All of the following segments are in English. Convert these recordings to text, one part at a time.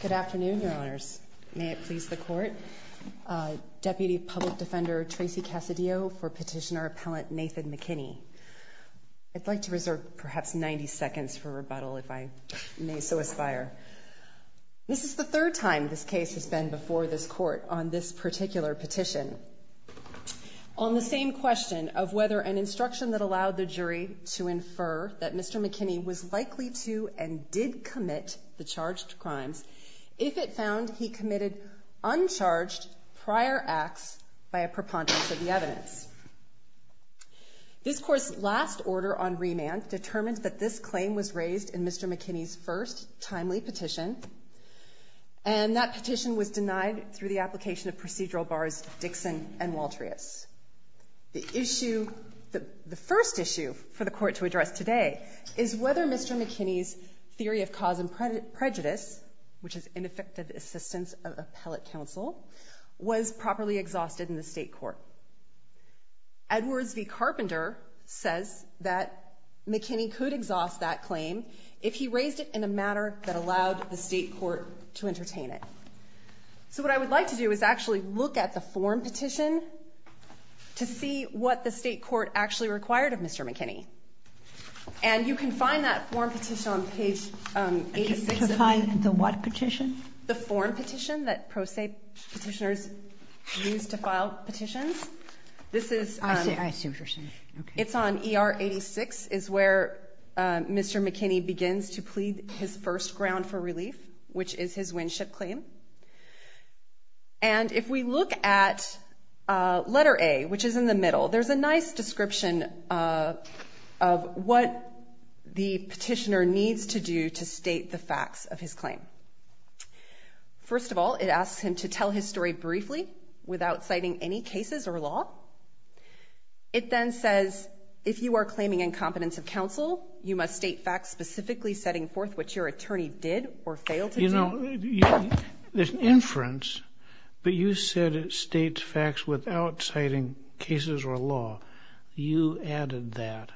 Good afternoon, Your Honors. May it please the Court, Deputy Public Defender Tracy Cassadio for Petitioner Appellant Nathan McKinney. I'd like to reserve perhaps 90 seconds for rebuttal if I may so aspire. This is the third time this case has been before this Court on this particular petition. On the same question of whether an instruction that allowed the jury to infer that Mr. McKinney was guilty of the charged crimes, if it found he committed uncharged prior acts by a preponderance of the evidence. This Court's last order on remand determined that this claim was raised in Mr. McKinney's first timely petition and that petition was denied through the application of procedural bars Dixon and Waltrius. The issue, the first issue for the Court to address today is whether Mr. McKinney's theory of cause and prejudice, which is ineffective assistance of appellate counsel, was properly exhausted in the state court. Edwards v. Carpenter says that McKinney could exhaust that claim if he raised it in a matter that allowed the state court to entertain it. So what I would like to do is actually look at the form petition to see what the state court actually required of Mr. McKinney. And you can find that form petition on page 86. To find the what petition? The form petition that pro se petitioners use to file petitions. I see what you're saying. It's on ER 86 is where Mr. McKinney begins to plead his first ground for relief, which is his Winship claim. And if we look at letter A, which is in the middle, there's a nice description of what the petitioner needs to do to state the facts of his claim. First of all, it asks him to tell his story briefly without citing any cases or law. It then says if you are claiming incompetence of counsel, you must state facts specifically setting forth what your attorney did or failed to do. You know, there's an inference, but you said it cases or law. You added that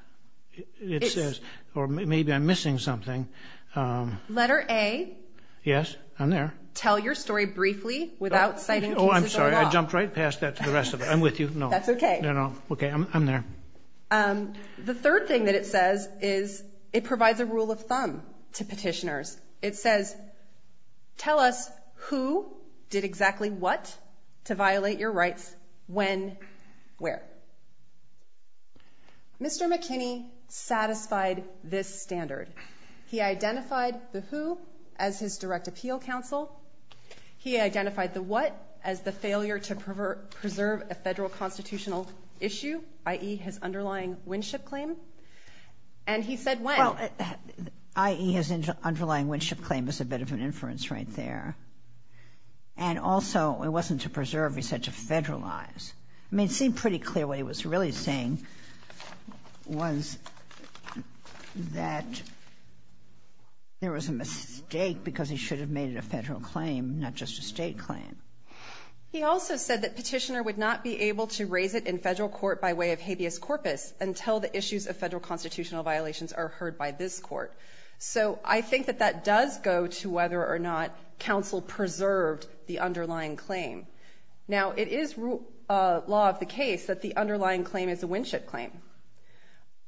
it says, or maybe I'm missing something. Um, letter a yes. I'm there. Tell your story briefly without citing. Oh, I'm sorry. I jumped right past that to the rest of it. I'm with you. No, that's okay. No, okay. I'm there. Um, the third thing that it says is it provides a rule of thumb to petitioners. It says, tell us who did exactly what to violate your where? Mr. McKinney satisfied this standard. He identified the who as his direct appeal counsel. He identified the what as the failure to preserve a federal constitutional issue, i.e. his underlying Winship claim. And he said well, i.e. his underlying Winship claim is a bit of an inference right there. And also it wasn't to preserve, he said to federalize. I mean, it seemed pretty clear what he was really saying was that there was a mistake because he should have made it a federal claim, not just a state claim. He also said that petitioner would not be able to raise it in federal court by way of habeas corpus until the issues of federal constitutional violations are heard by this court. So I think that that does go to whether or not counsel preserved the underlying claim. Now, it is a law of the case that the underlying claim is a Winship claim.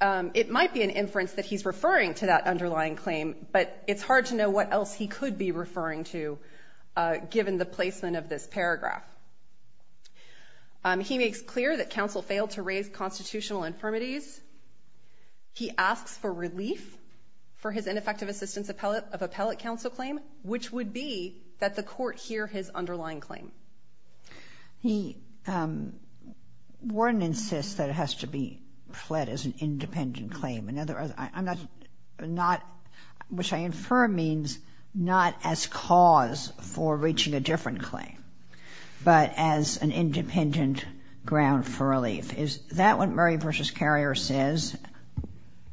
Um, it might be an inference that he's referring to that underlying claim, but it's hard to know what else he could be referring to, uh, given the placement of this paragraph. Um, he makes clear that counsel failed to raise constitutional infirmities. He asks for relief for his ineffective assistance appellate of appellate counsel claim, which would be that the court hear his underlying claim. He, um, Warren insists that it has to be fled as an independent claim. In other words, I'm not not, which I infer means not as cause for reaching a different claim, but as an independent ground for relief. Is that what Murray versus carrier says?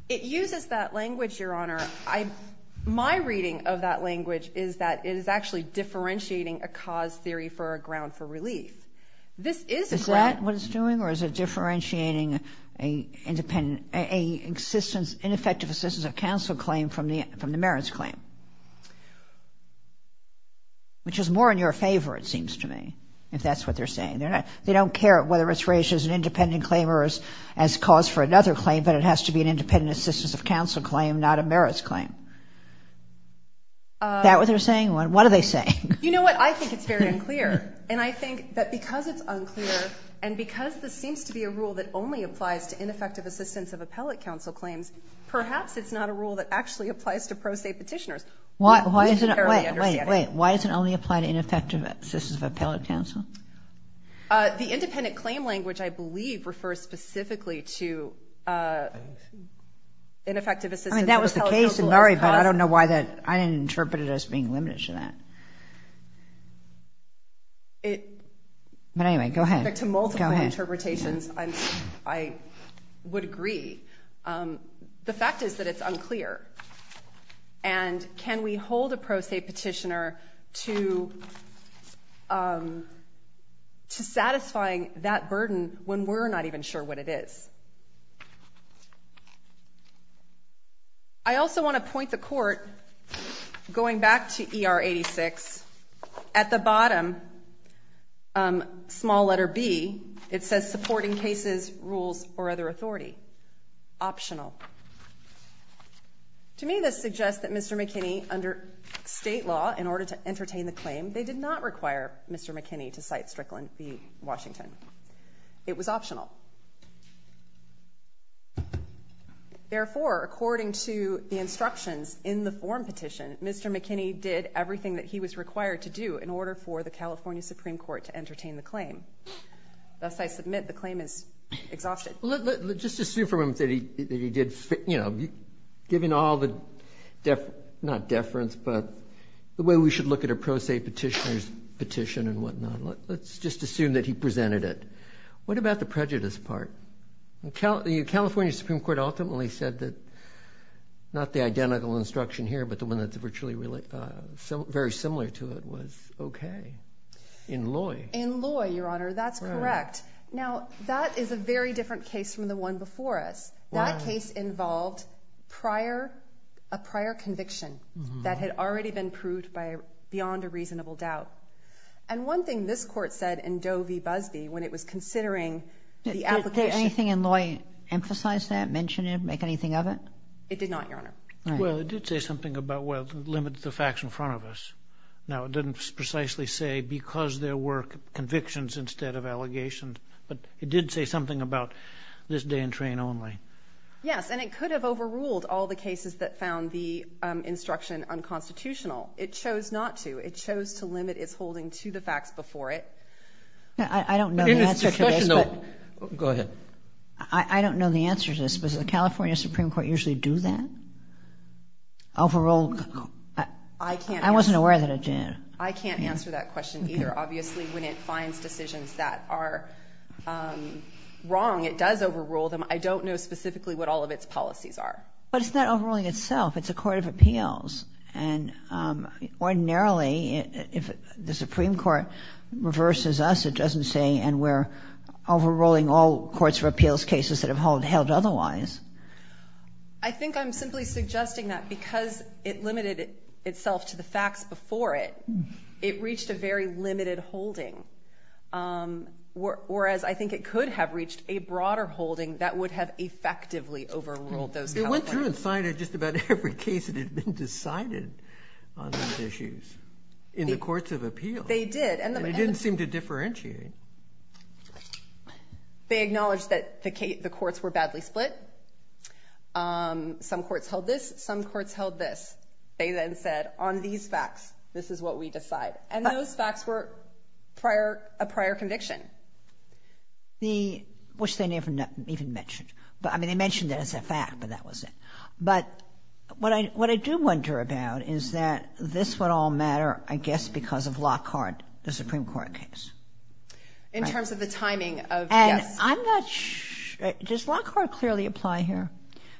It uses that language, Your Honor. I my reading of that language is that it is actually differentiating a cause theory for a ground for relief. This is that what it's doing, or is it differentiating a independent, a existence, ineffective assistance of counsel claim from the from the merits claim, which is more in your favor, it seems to me, if that's what they're saying, they're not. They don't care whether it's raised as an independent claimers as cause for another claim, but it has to be an independent assistance of counsel claim, not a merits claim. That what they're saying? What are they saying? You know what? I think it's very unclear, and I think that because it's unclear and because this seems to be a rule that only applies to ineffective assistance of appellate counsel claims, perhaps it's not a rule that actually applies to pro state petitioners. Why? Why is it? Wait, wait, wait. Why is it only apply to ineffective assistance of appellate counsel? The independent claim language, I believe, refers specifically to ineffective assistance of appellate counsel as cause. I mean, that was the case in Murray, but I don't know why that I didn't interpret it as being limited to that. But anyway, go ahead. To multiple interpretations, I would agree. The fact is that it's unclear. And can we hold a pro state petitioner to satisfying that burden when we're not even sure what it is? I also want to point the court going back to E. R. 86 at the bottom. Um, small letter B. It says supporting cases, rules or other authority optional. To me, this suggests that Mr McKinney under state law in order to entertain the claim, they did not require Mr McKinney to cite Strickland v Washington. It was optional. Therefore, according to the instructions in the form petition, Mr McKinney did everything that he was required to do in order for the California Supreme Court to entertain the claim. Thus, I submit the claim is exhaustion. Let's just assume for a moment that he did, you know, given all the deference, not petitioners petition and whatnot. Let's just assume that he presented it. What about the prejudice part? The California Supreme Court ultimately said that not the identical instruction here, but the one that's virtually very similar to it was okay. In Loy. In Loy, Your Honor, that's correct. Now, that is a very different case from the one before us. That case involved prior a prior conviction that had already been proved by beyond a reasonable doubt. And one thing this court said in Doe v Busby, when it was considering the application, anything in Loy emphasize that mention it make anything of it? It did not, Your Honor. Well, it did say something about well limit the facts in front of us. Now, it didn't precisely say because there were convictions instead of allegations, but it did say something about this day and train only. Yes, and it could have overruled all the cases that found the instruction unconstitutional. It chose not to. It chose to limit its holding to the facts before it. I don't know the answer to this. Go ahead. I don't know the answer to this. Does the California Supreme Court usually do that? Overruled? I can't. I wasn't aware that it did. I can't answer that question either. Obviously, when it finds decisions that are wrong, it does overrule them. I don't know specifically what all of its policies are. But it's not overruling itself. It's a court of appeals. And ordinarily, if the Supreme Court reverses us, it doesn't say and we're overruling all courts for appeals cases that have held held otherwise. I think I'm simply suggesting that because it limited itself to the facts before it, it reached a very limited holding. Whereas I think it could have reached a broader holding that would have effectively overruled those California... It went through and cited just about every case that had been decided on these issues in the courts of appeals. They did. And it didn't seem to differentiate. They acknowledged that the courts were badly split. Some courts held this, some courts held this. They then said, on these facts, this is what we decide. And those facts were a prior conviction. Which they never even mentioned. They mentioned it as a fact, but that was it. But what I do wonder about is that this would all matter, I guess, because of Lockhart, the Supreme Court case. In terms of the timing of... And I'm not sure... Does Lockhart clearly apply here?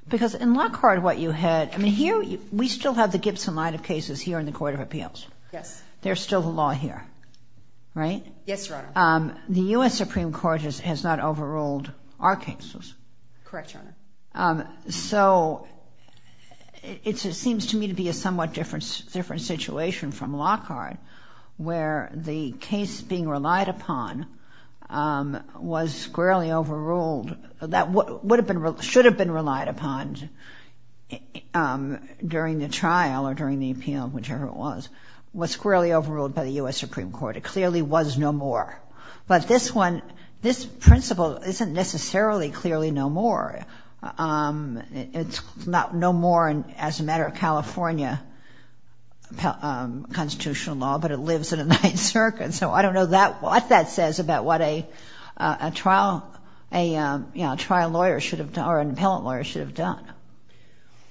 Because in Lockhart, what you had... Here, we still have the Gibson line of cases here in the court of appeals. Yes. There's still the law here, right? Yes, Your Honor. The US Supreme Court has not overruled our cases. Correct, Your Honor. So it seems to me to be a somewhat different situation from Lockhart, where the case being relied upon was squarely overruled. That should have been relied upon during the trial or during the appeal, whichever it was, was squarely overruled by the US Supreme Court. It clearly was no more. But this one, this principle isn't necessarily clearly no more. It's not no more as a matter of California constitutional law, but it lives in a ninth circuit. So I don't know what that says about what a trial lawyer should have... Or an appellant lawyer should have done.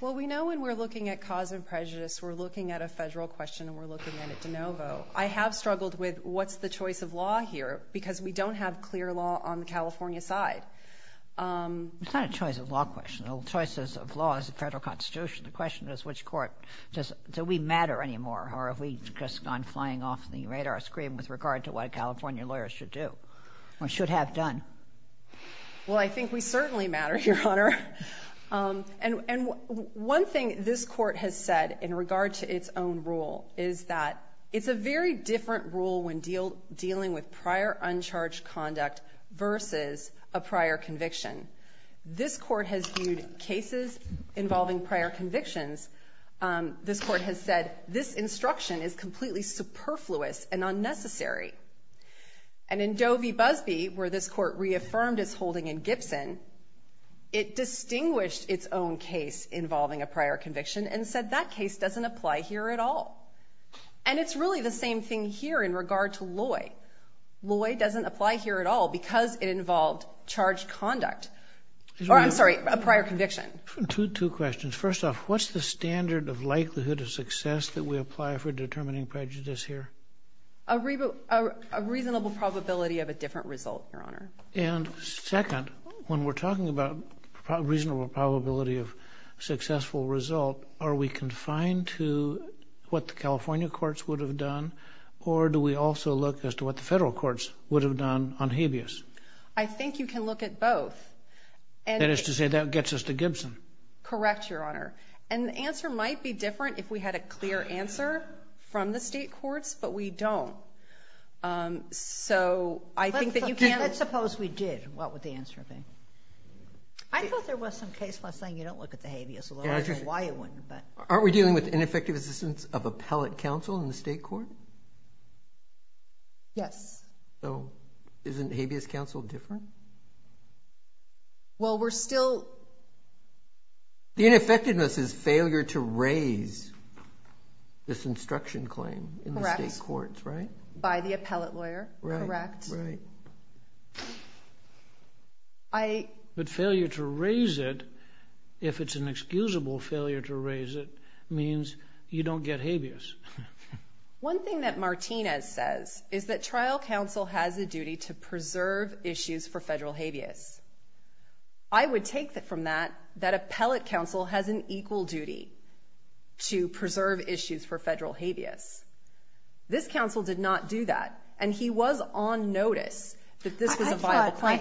Well, we know when we're looking at cause of prejudice, we're looking at a federal question and we're looking at it de novo. I have struggled with, what's the choice of law here? Because we don't have clear law on the California side. It's not a choice of law question. The choices of law is a federal constitution. The question is, which court... Do we matter anymore? Or have we just gone flying off the radar screen with regard to what California lawyers should do or should have done? Well, I think we certainly matter, Your Honor. And one thing this court has said in regard to its own rule is that it's a very different rule when dealing with prior uncharged conduct versus a prior conviction. This court has viewed cases involving prior convictions. This court has said, this instruction is completely superfluous and unnecessary. And in Doe v. Busby, where this court reaffirmed its holding in Gibson, it distinguished its own case involving a prior conviction and said, that case doesn't apply here at all. And it's really the same thing here in regard to Loy. Loy doesn't apply here at all because it involved charged conduct. Or I'm sorry, a prior conviction. Two questions. First off, what's the standard of likelihood of success that we apply for determining prejudice here? A reasonable probability of a different result, Your Honor. And second, when we're talking about reasonable probability of successful result, are we confined to what the California courts would have done? Or do we also look as to what the federal courts would have done on habeas? I think you can look at both. That is to say that gets us to Gibson. Correct, Your Honor. And the answer might be different if we had a clear answer from the state courts, but we don't. So I think that you can... Let's suppose we did. What would the answer be? I thought there was some case where I was saying you don't look at the habeas, although I don't know why you wouldn't, but... Aren't we dealing with ineffective assistance of appellate counsel in the state court? Yes. So isn't habeas counsel different? Well, we're still... The ineffectiveness is failure to raise this instruction claim in the state courts, right? Correct. By the appellate lawyer, correct. Right. But failure to raise it, if it's an excusable failure to raise it, means you don't get habeas. One thing that Martinez says is that trial counsel has a duty to preserve issues for federal habeas. I would take that from that, that appellate counsel has an equal duty to preserve issues for federal habeas. This counsel did not do that, and he was on notice that this was a viable claim.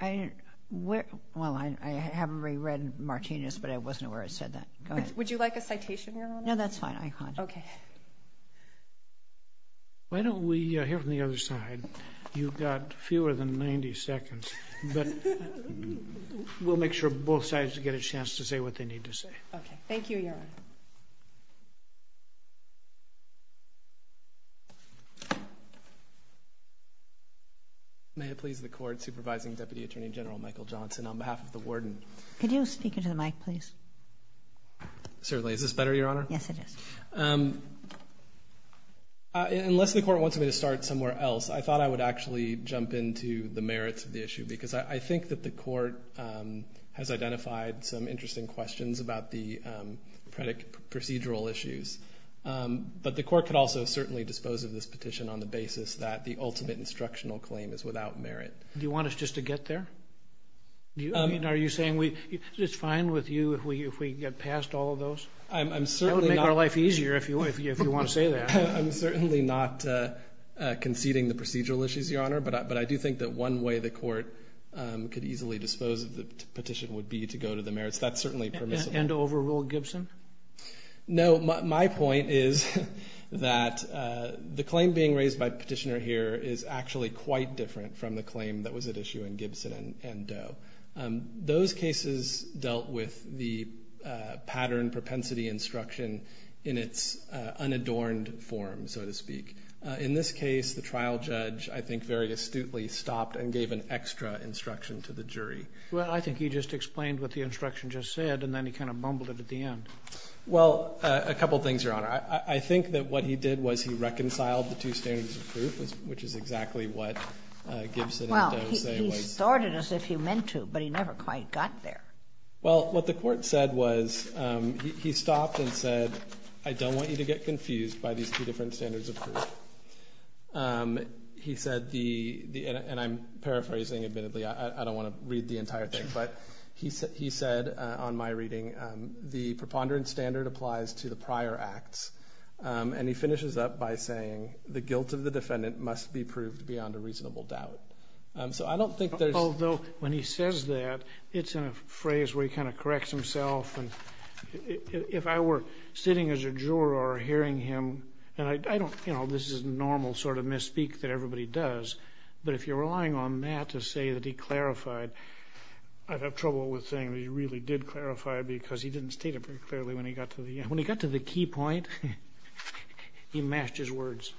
I thought... Well, I haven't really read Martinez, but I wasn't aware it said that. Go ahead. Would you like a citation, Your Honor? No, that's fine. Okay. Why don't we hear from the other side? You've got fewer than 90 seconds, but we'll make sure both sides get a chance to say what they need to say. Okay. Thank you, Your Honor. May it please the court, Supervising Deputy Attorney General Michael Johnson, on behalf of the warden. Could you speak into the mic, please? Certainly. Is this better, Your Honor? Yes, it is. Unless the court wants me to start somewhere else, I thought I would actually jump into the merits of the issue, because I think that the court has identified some interesting questions about the procedural issues, but the court could also certainly dispose of this petition on the basis that the ultimate instructional claim is without merit. Do you want us just to get there? Are you saying it's fine with you if we get past all of those? That would make our life easier, if you want to say that. I'm certainly not conceding the procedural issues, Your Honor, but I do think that one way the court could easily dispose of the petition would be to go to the merits. That's certainly permissible. And to overrule Gibson? No, my point is that the claim being raised by Petitioner here is actually quite different from the claim that was at issue in Gibson and Doe. Those cases dealt with the pattern propensity instruction in its unadorned form, so to speak. In this case, the trial judge, I think, very astutely stopped and gave an extra instruction to the jury. Well, I think he just explained what the instruction just said, and then he kind of mumbled it at the end. Well, a couple things, Your Honor. I think that what he did was he reconciled the two standards of proof, which is exactly what Gibson and Doe say. Well, he started as if he meant to, but he never quite got there. Well, what the court said was he stopped and said, I don't want you to get confused by these two different standards of proof. He said the, and I'm paraphrasing admittedly, I don't want to read the entire thing, but he said on my reading, the preponderance standard applies to the prior acts, and he finishes up by saying the guilt of the defendant must be proved beyond a reasonable doubt. So I don't think there's... Although when he says that, it's in a phrase where he kind of corrects himself, and if I were sitting as a juror hearing him, and I don't, you know, this is normal sort of misspeak that everybody does, but if you're relying on that to say that he clarified, I'd have trouble with saying that he really did clarify because he didn't state it very clearly when he got to the end. When he got to the key point, he matched his words.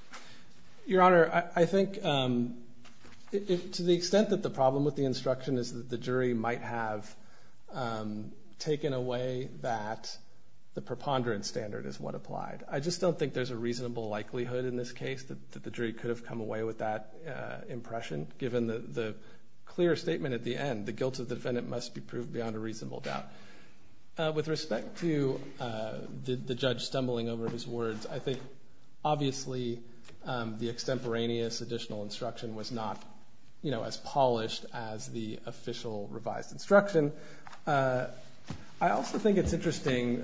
Your Honor, I think to the extent that the problem with the instruction is that the jury might have taken away that the preponderance standard is what applied. I just don't think there's a reasonable likelihood in this case that the jury could have come away with that impression, given the clear statement at the end, the guilt of the defendant must be proved beyond a reasonable doubt. With respect to the judge stumbling over his words, I think obviously the extemporaneous additional instruction was not, you know, as polished as the official revised instruction. I also think it's interesting,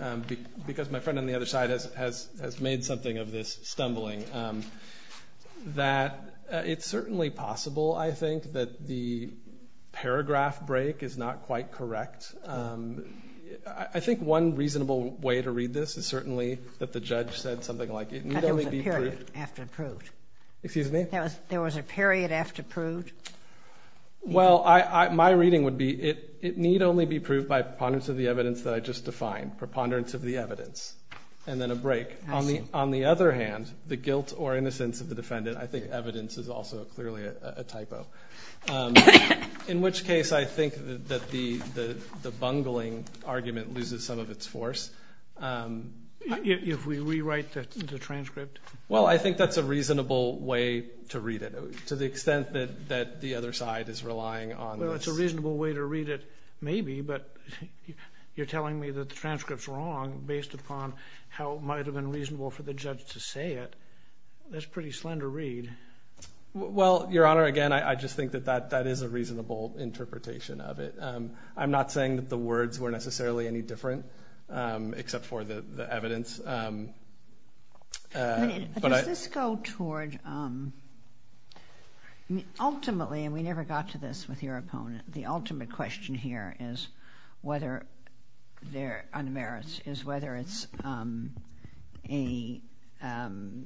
because my friend on the other side has made something of this stumbling, that it's certainly possible, I think, that the paragraph break is not quite correct. I think one reasonable way to read this is certainly that the judge said something like it need only be proved. There was a period after proved? Well, my reading would be it need only be proved by preponderance of the evidence that I just defined, preponderance of the evidence, and then a break. On the other hand, the guilt or innocence of the defendant, I think evidence is also clearly a typo. In which case, I think that the bungling argument loses some of its force. If we rewrite the transcript? Well, I think that's a reasonable way to read it, to the extent that that the other side is relying on. Well, it's a reasonable way to read it, maybe, but you're telling me that the transcript's wrong based upon how it might have been reasonable for the judge to say it. That's a pretty slender read. Well, Your Honor, again, I just think that that that is a reasonable interpretation of it. I'm not saying that the words were necessarily any different, except for the evidence. Does this go toward, ultimately, and we never got to this with your opponent, the ultimate question here is whether there are merits, is whether it's a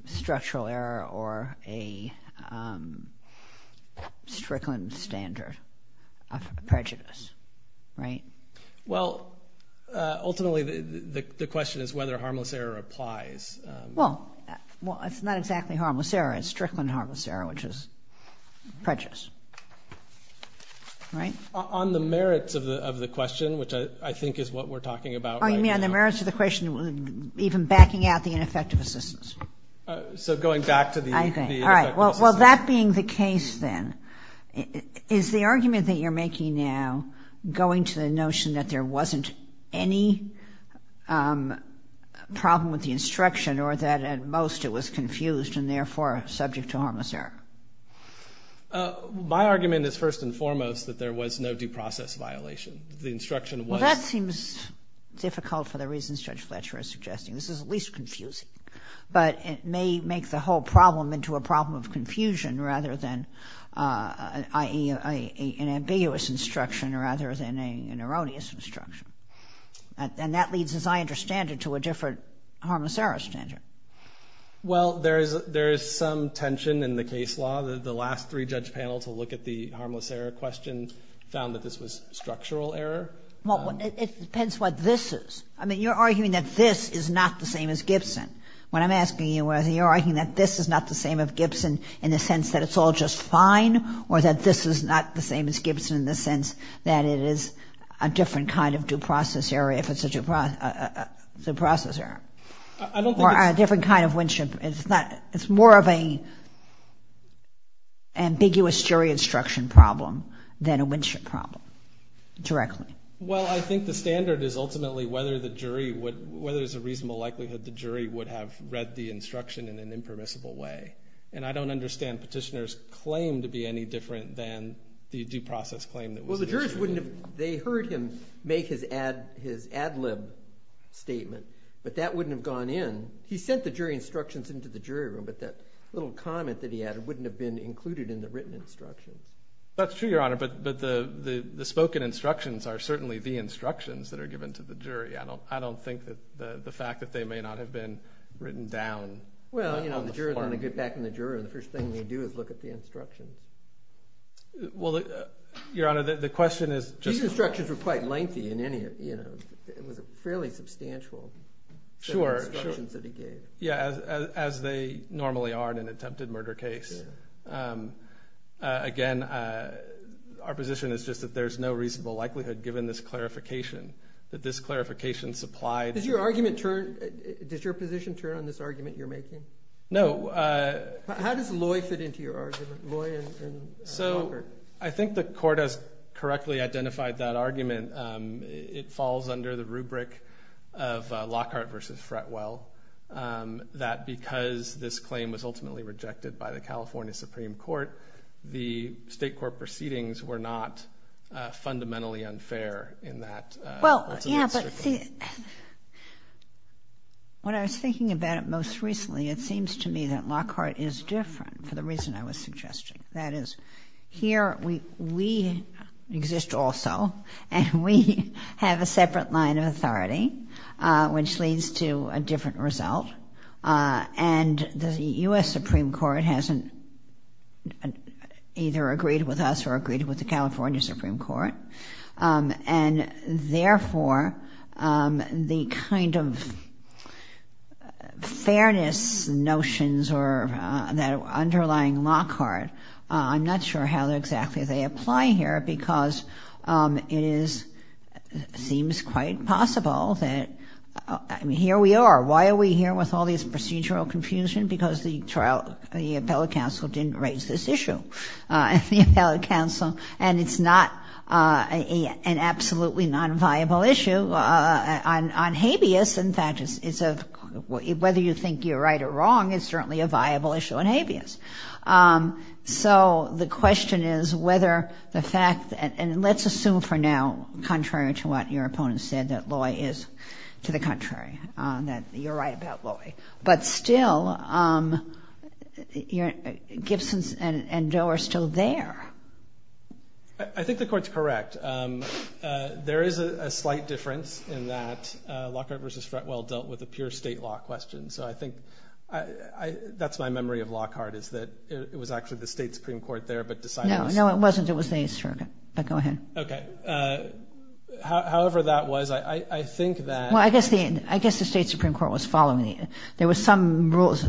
structural error or a Strickland standard of prejudice, right? Well, ultimately, the question is whether harmless error applies. Well, well, it's not exactly harmless error. It's Strickland harmless error, which is prejudice, right? On the merits of the question, which I think is what we're talking about. Oh, you mean on the merits of the question, even backing out the ineffective assistance? So, going back to the... I think, all right. Well, that being the case, then, is the argument that you're making now going to the notion that there wasn't any problem with the instruction or that at most it was confused and therefore subject to harmless error? My argument is, first and foremost, that there was no due process violation. The instruction was... Well, that seems difficult for the reasons Judge Fletcher is suggesting. This is at least rather than an ambiguous instruction rather than an erroneous instruction. And that leads, as I understand it, to a different harmless error standard. Well, there is some tension in the case law. The last three-judge panel to look at the harmless error question found that this was structural error. Well, it depends what this is. I mean, you're arguing that this is not the same as Gibson. When I'm in the sense that it's all just fine or that this is not the same as Gibson in the sense that it is a different kind of due process error if it's a due process error? I don't think it's... Or a different kind of Winship. It's not... It's more of a ambiguous jury instruction problem than a Winship problem directly. Well, I think the standard is ultimately whether the jury would... Whether there's a reasonable likelihood the jury would have read the instruction in an impermissible way. And I don't understand petitioner's claim to be any different than the due process claim that was issued. Well, the jurors wouldn't have... They heard him make his ad... His ad lib statement, but that wouldn't have gone in. He sent the jury instructions into the jury room, but that little comment that he added wouldn't have been included in the written instructions. That's true, Your Honor, but the... The spoken instructions are certainly the instructions that are given to the jury. I don't... I don't think that the fact that they may not have been written down on the form... Well, the jurors want to get back in the juror, and the first thing they do is look at the instructions. Well, Your Honor, the question is just... These instructions were quite lengthy in any of... It was a fairly substantial set of instructions that he gave. Sure, sure. Yeah, as they normally are in an attempted murder case. Again, our position is just that there's no reasonable likelihood, given this clarification, that this clarification supplied... Does your argument turn... Does your position turn on this argument you're making? No. How does Loy fit into your argument? Loy and Lockhart. So, I think the court has correctly identified that argument. It falls under the rubric of Lockhart versus Fretwell, that because this claim was ultimately rejected by the California Supreme Court, the state court proceedings were not rejected. When I was thinking about it most recently, it seems to me that Lockhart is different, for the reason I was suggesting. That is, here, we exist also, and we have a separate line of authority, which leads to a different result. And the US Supreme Court hasn't either agreed with us or agreed with the California Supreme Court. And therefore, the kind of fairness notions that are underlying Lockhart, I'm not sure how exactly they apply here, because it seems quite possible that... Here we are. Why are we here with all this procedural confusion? Because the appellate counsel didn't raise this issue. And the appellate counsel raised an absolutely non viable issue on habeas, and that is... Whether you think you're right or wrong, it's certainly a viable issue on habeas. So, the question is whether the fact... And let's assume for now, contrary to what your opponent said, that Loy is to the contrary, that you're right about Loy. But still, Gibsons and Doe are still there. I think the court's correct. There is a slight difference in that Lockhart versus Fretwell dealt with a pure state law question. So I think that's my memory of Lockhart, is that it was actually the State Supreme Court there, but decided... No, it wasn't. It was the 8th Circuit, but go ahead. Okay. However that was, I think that... Well, I guess the State Supreme Court had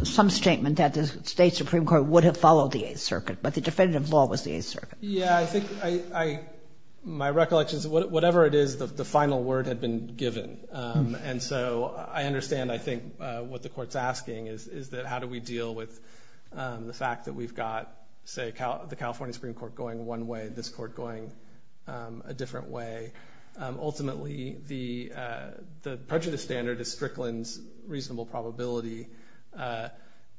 some statement that the State Supreme Court would have followed the 8th Circuit, but the definitive law was the 8th Circuit. Yeah, I think I... My recollection is whatever it is, the final word had been given. And so I understand, I think, what the court's asking is that how do we deal with the fact that we've got, say, the California Supreme Court going one way, this court going a different way. Ultimately, the prejudice standard is Strickland's reasonable probability.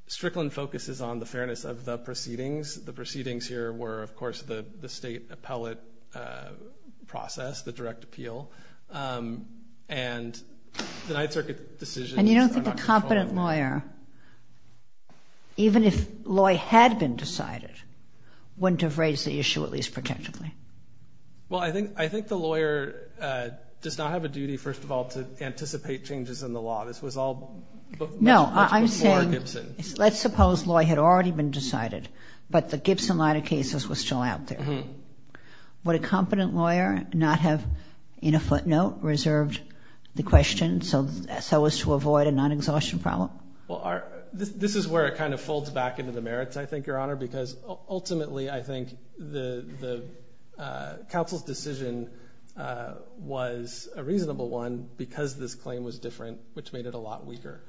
Strickland focuses on the fairness of the proceedings. The proceedings here were, of course, the state appellate process, the direct appeal. And the 9th Circuit decision... And you don't think a competent lawyer, even if law had been decided, wouldn't have raised the issue at least protectively? Well, I think the lawyer does not have a duty, first of all, to anticipate changes in the law. No, I'm saying... Much before Gibson. Let's suppose law had already been decided, but the Gibson line of cases was still out there. Would a competent lawyer not have, in a footnote, reserved the question so as to avoid a non-exhaustion problem? Well, this is where it kind of folds back into the merits, I think, Your Honor, because ultimately, I think, the counsel's decision was a reasonable one because this claim was different, which made it a lot weaker.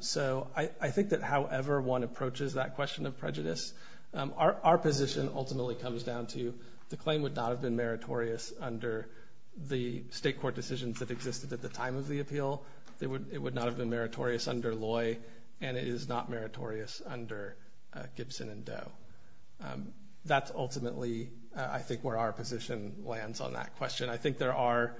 So I think that however one approaches that question of prejudice, our position ultimately comes down to the claim would not have been meritorious under the state court decisions that existed at the time of the appeal. It would not have been meritorious under Loy, and it is not meritorious under Gibson and Doe. That's ultimately, I think, where our position lands on that question. I think there are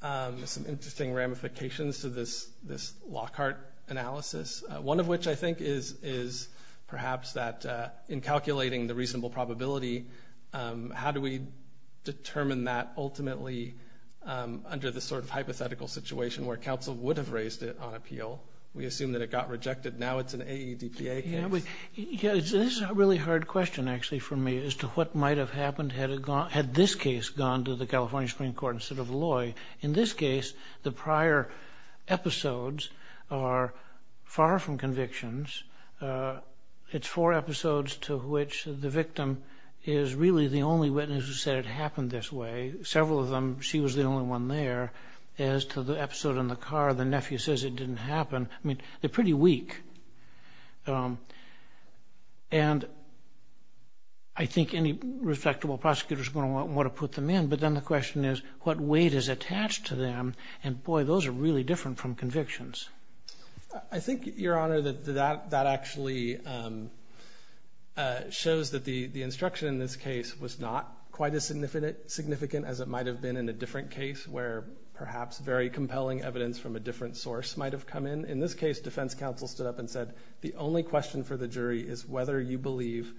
some interesting ramifications to this Lockhart analysis, one of which, I think, is perhaps that in calculating the reasonable probability, how do we determine that ultimately under this sort of hypothetical situation where counsel would have raised it on appeal? We assume that it got rejected. Now it's an AEDPA case. Yeah, this is a really hard question, actually, for me as to what might have happened had this case gone to the California Supreme Court instead of Loy. In this case, the prior episodes are far from convictions. It's four episodes to which the victim is really the only witness who said it happened this way. Several of them, she was the only one there. As to the episode in the car, the nephew says it didn't happen. I mean, they're pretty weak. And I think any respectable prosecutor is going to want to put them in. But then the question is, what weight is attached to them? And boy, those are really different from convictions. I think, Your Honor, that actually shows that the instruction in this case was not quite as significant as it might have been in a different case where perhaps very compelling evidence from a different source might have come in. In this case, defense counsel stood up and said, the only question for the jury is whether you believe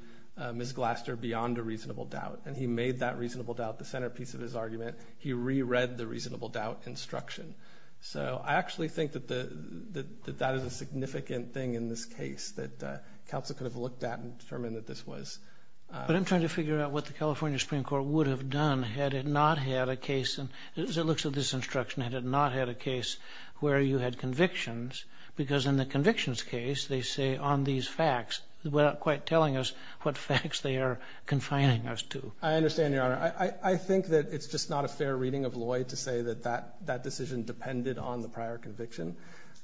Ms. Glaster beyond a reasonable doubt. And he made that reasonable doubt the centerpiece of his argument. He re-read the reasonable doubt instruction. So I actually think that that is a significant thing in this case, that counsel could have looked at and determined that this was... But I'm trying to figure out what the California Supreme Court would have done had it not had a case, and as it looks at this instruction, had it not had a case where you had convictions. Because in the convictions case, they say on these facts, without quite telling us what facts they are confining us to. I understand, Your Honor. I think that it's just not a fair reading of Loy to say that that decision depended on the prior conviction.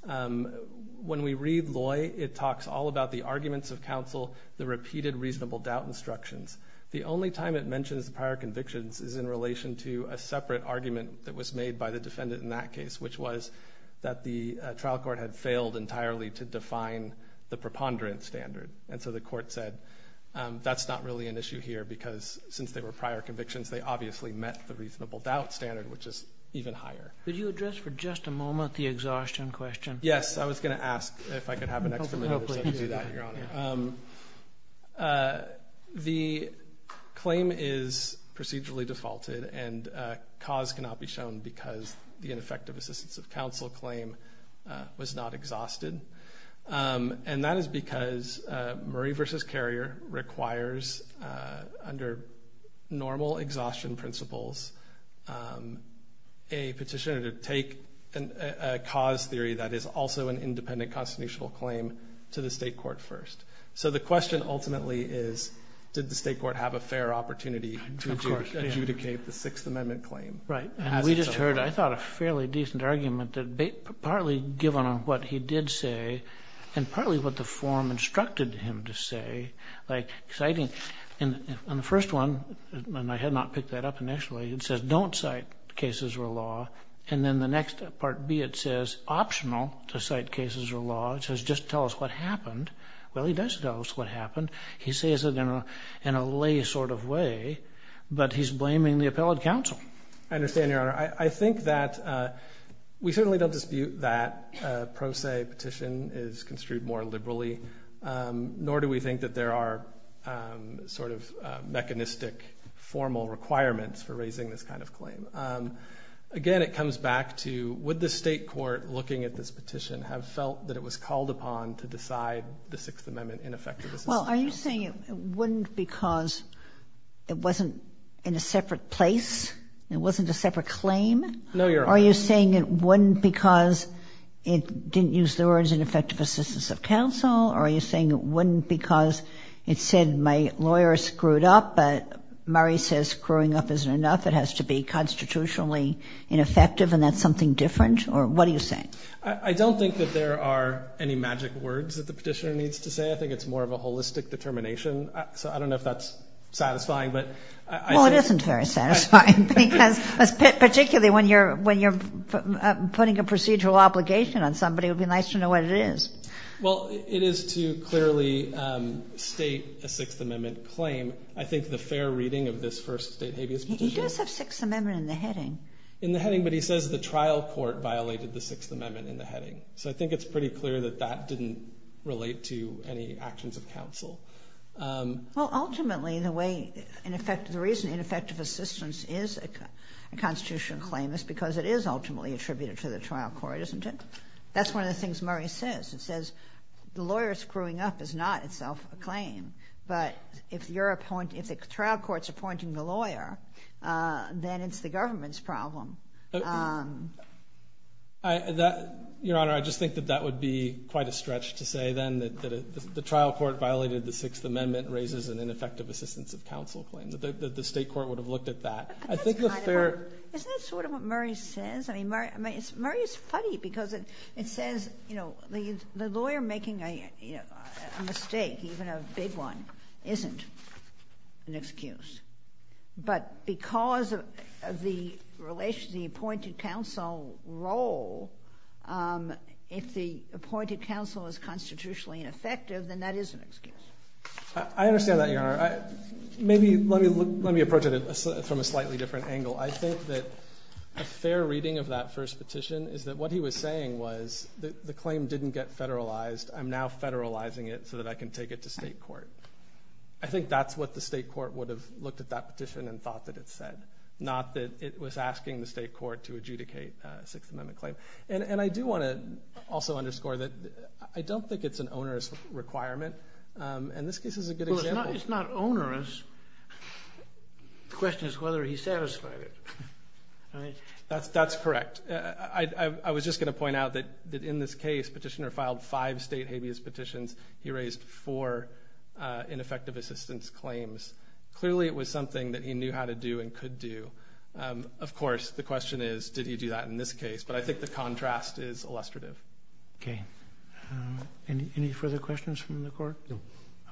When we read Loy, it talks all about the arguments of counsel, the repeated reasonable doubt instructions. The only time it mentions the prior convictions is in relation to a separate argument that was made by the defendant in that case, which was that the trial court had failed entirely to define the preponderance standard. And so the court said, that's not really an issue here, because since they were prior convictions, they obviously met the reasonable doubt standard, which is even higher. Could you address for just a moment the exhaustion question? Yes, I was gonna ask if I could have an extra minute or so to do that, Your Honor. The claim is procedurally defaulted, and cause cannot be shown because the ineffective assistance of counsel claim was not exhausted. And that is because Murray v. Carrier requires, under normal exhaustion principles, a petitioner to take a cause theory that is also an independent constitutional claim to the state court first. So the question ultimately is, did the state court have a fair opportunity to adjudicate the Sixth Amendment? I think that's a fairly decent argument that, partly given on what he did say, and partly what the form instructed him to say, like citing... On the first one, and I had not picked that up initially, it says, don't cite cases or law. And then the next part B, it says, optional to cite cases or law. It says, just tell us what happened. Well, he does tell us what happened. He says it in a lay sort of way, but he's blaming the appellate counsel. I understand, Your Honor. I think that we certainly don't dispute that a pro se petition is construed more liberally, nor do we think that there are mechanistic formal requirements for raising this kind of claim. Again, it comes back to, would the state court, looking at this petition, have felt that it was called upon to decide the Sixth Amendment ineffective assistance? Well, are you saying it wouldn't because it wasn't in a separate place? It wasn't a separate claim? No, Your Honor. Are you saying it wouldn't because it didn't use the words ineffective assistance of counsel? Or are you saying it wouldn't because it said, my lawyer screwed up, but Murray says screwing up isn't enough, it has to be constitutionally ineffective, and that's something different? Or what are you saying? I don't think that there are any magic words that the petitioner needs to say. I think it's more of a holistic determination, so I don't know if that's satisfying, but... Well, it isn't very satisfying, because particularly when you're putting a procedural obligation on somebody, it would be nice to know what it is. Well, it is to clearly state a Sixth Amendment claim. I think the fair reading of this first state habeas petition... He does have Sixth Amendment in the heading. In the heading, but he says the trial court violated the Sixth Amendment in the heading. So I think it's pretty clear that that didn't relate to any actions of counsel. Well, ultimately, the way... In effect, the reason ineffective assistance is a constitutional claim is because it is ultimately attributed to the trial court, isn't it? That's one of the things Murray says. It says, the lawyer screwing up is not itself a claim, but if the trial court's appointing the lawyer, then it's the government's problem. Your Honor, I just think that that would be quite a stretch to say, then, that the trial court violated the Sixth Amendment raises an ineffective assistance of counsel claim, that the state court would have looked at that. I think the fair... Isn't that sort of what Murray says? Murray is funny, because it says, the lawyer making a mistake, even a big one, isn't an excuse. But because of the relationship, the appointed counsel role, if the appointed counsel is constitutionally ineffective, then that is an excuse. I understand that, Your Honor. Maybe, let me approach it from a slightly different angle. I think that a fair reading of that first petition is that what he was saying was, the claim didn't get federalized, I'm now federalizing it so that I can take it to state court. I think that's what the state court would have looked at that petition and thought that it said, not that it was asking the state court to adjudicate a Sixth Amendment claim. And I do wanna also underscore that I don't think it's an onerous requirement, and this case is a good example. Well, it's not onerous. The question is whether he satisfied it. That's correct. I was just gonna point out that in this case, petitioner filed five state habeas petitions, he raised four ineffective assistance claims. Clearly, it was something that he knew how to do and could do. Of course, the question is, did he do that in this case? But I think the contrast is illustrative. Okay. Any further questions from the court? No.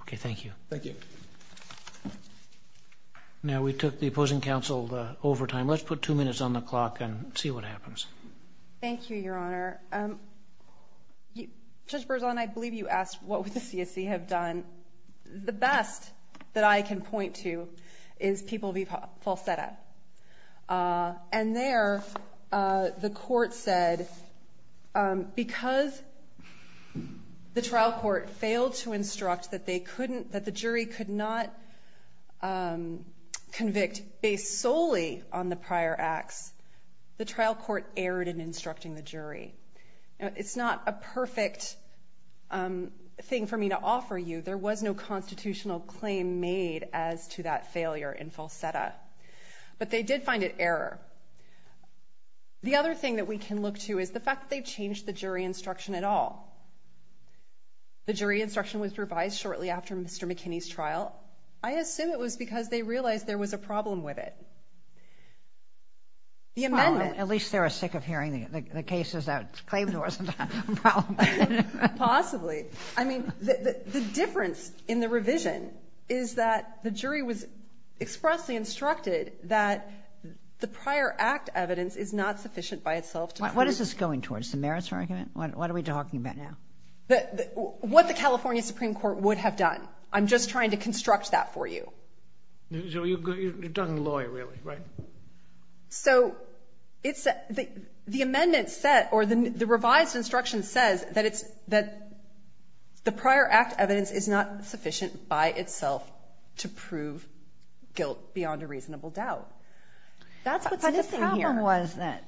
Okay, thank you. Thank you. Now, we took the opposing counsel over time. Let's put two minutes on the clock and see what happens. Thank you, Your Honor. Judge Berzon, I believe you asked what would the CSC have done. The best that I can point to is People v. Falsetta. And there, the court said, because the trial court failed to instruct that they couldn't... That the jury could not convict based solely on the prior acts, the trial court erred in instructing the jury. It's not a perfect thing for me to offer you. There was no constitutional claim made as to that failure in Falsetta. But they did find it error. The other thing that we can look to is the fact that they changed the jury instruction at all. The jury instruction was revised shortly after Mr. McKinney's trial. I assume it was because they realized there was a problem with it. The amendment... At least they were sick of hearing the cases that claimed there wasn't a problem. Possibly. The difference in the revision is that the jury was expressly instructed that the prior act evidence is not sufficient by itself to... What is this going towards? The merits argument? What are we talking about now? What the California Supreme Court would have done. I'm just trying to construct that for you. You're a done lawyer, really, right? So, the amendment said, or the revised instruction says that the prior act evidence is not sufficient by itself to prove guilt beyond a reasonable doubt. That's what's missing here. But the problem was that...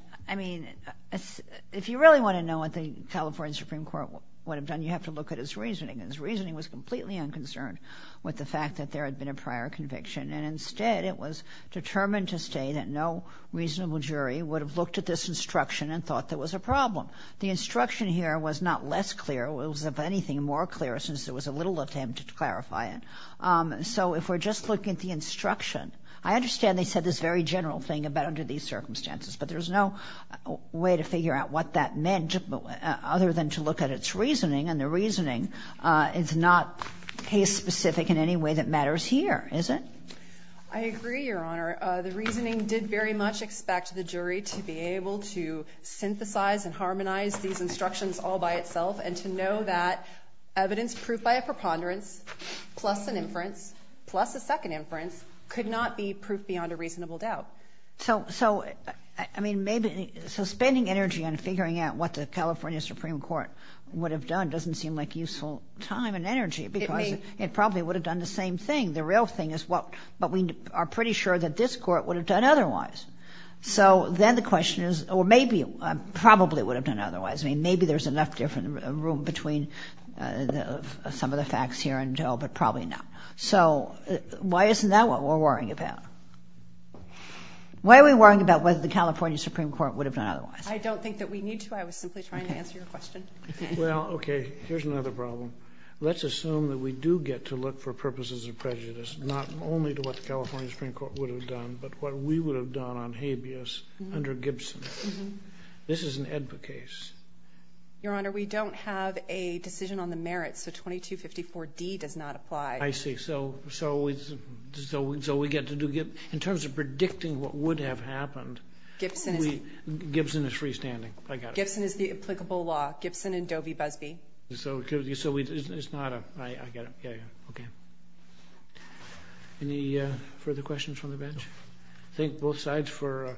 If you really wanna know what the California Supreme Court would have done, you have to look at his reasoning. His reasoning was completely unconcerned with the fact that there had been a prior conviction. And instead, it was determined to say that no reasonable jury would have looked at this instruction and thought there was a problem. The instruction here was not less clear. It was, if anything, more clear, since there was a little attempt to clarify it. So, if we're just looking at the instruction... I understand they said this very general thing about under these circumstances, but there's no way to figure out what that meant, other than to look at its reasoning. And the reasoning is not case specific in any way that matters here, is it? I agree, Your Honor. The reasoning did very much expect the jury to be able to synthesize and harmonize these instructions all by itself, and to know that evidence proved by a preponderance, plus an inference, plus a second inference, could not be proved beyond a reasonable doubt. So, I mean, maybe... So, spending energy on figuring out what the California Supreme Court would have done doesn't seem like useful time and energy, because it probably would have done the same thing. The real thing is, well, but we are pretty sure that this court would have done otherwise. So, then the question is, or maybe, probably would have done otherwise. I mean, maybe there's enough different room between some of the facts here and there, but probably not. So, why isn't that what we're worrying about? Why are we worrying about whether the California Supreme Court would have done otherwise? I don't think that we need to. I was simply trying to answer your question. Well, okay. Here's another problem. Let's assume that we do get to look for purposes of prejudice, not only to what the California Supreme Court would have done, but what we would have done on habeas under Gibson. This is an AEDPA case. Your Honor, we don't have a decision on the merits, so 2254 D does not apply. I see. So, we get to do... In terms of predicting what would have happened, Gibson is freestanding. I got it. Gibson is the applicable law, Gibson and Doe v. Busby. So, it's not a... I get it. Yeah, yeah. Okay. Any further questions from the bench? Thank both sides for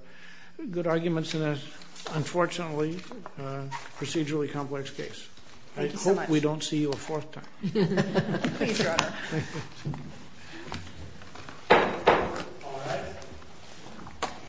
good arguments in this, unfortunately, procedurally complex case. I hope we don't see you a fourth time. Please, Your Honor. Thank you. All right.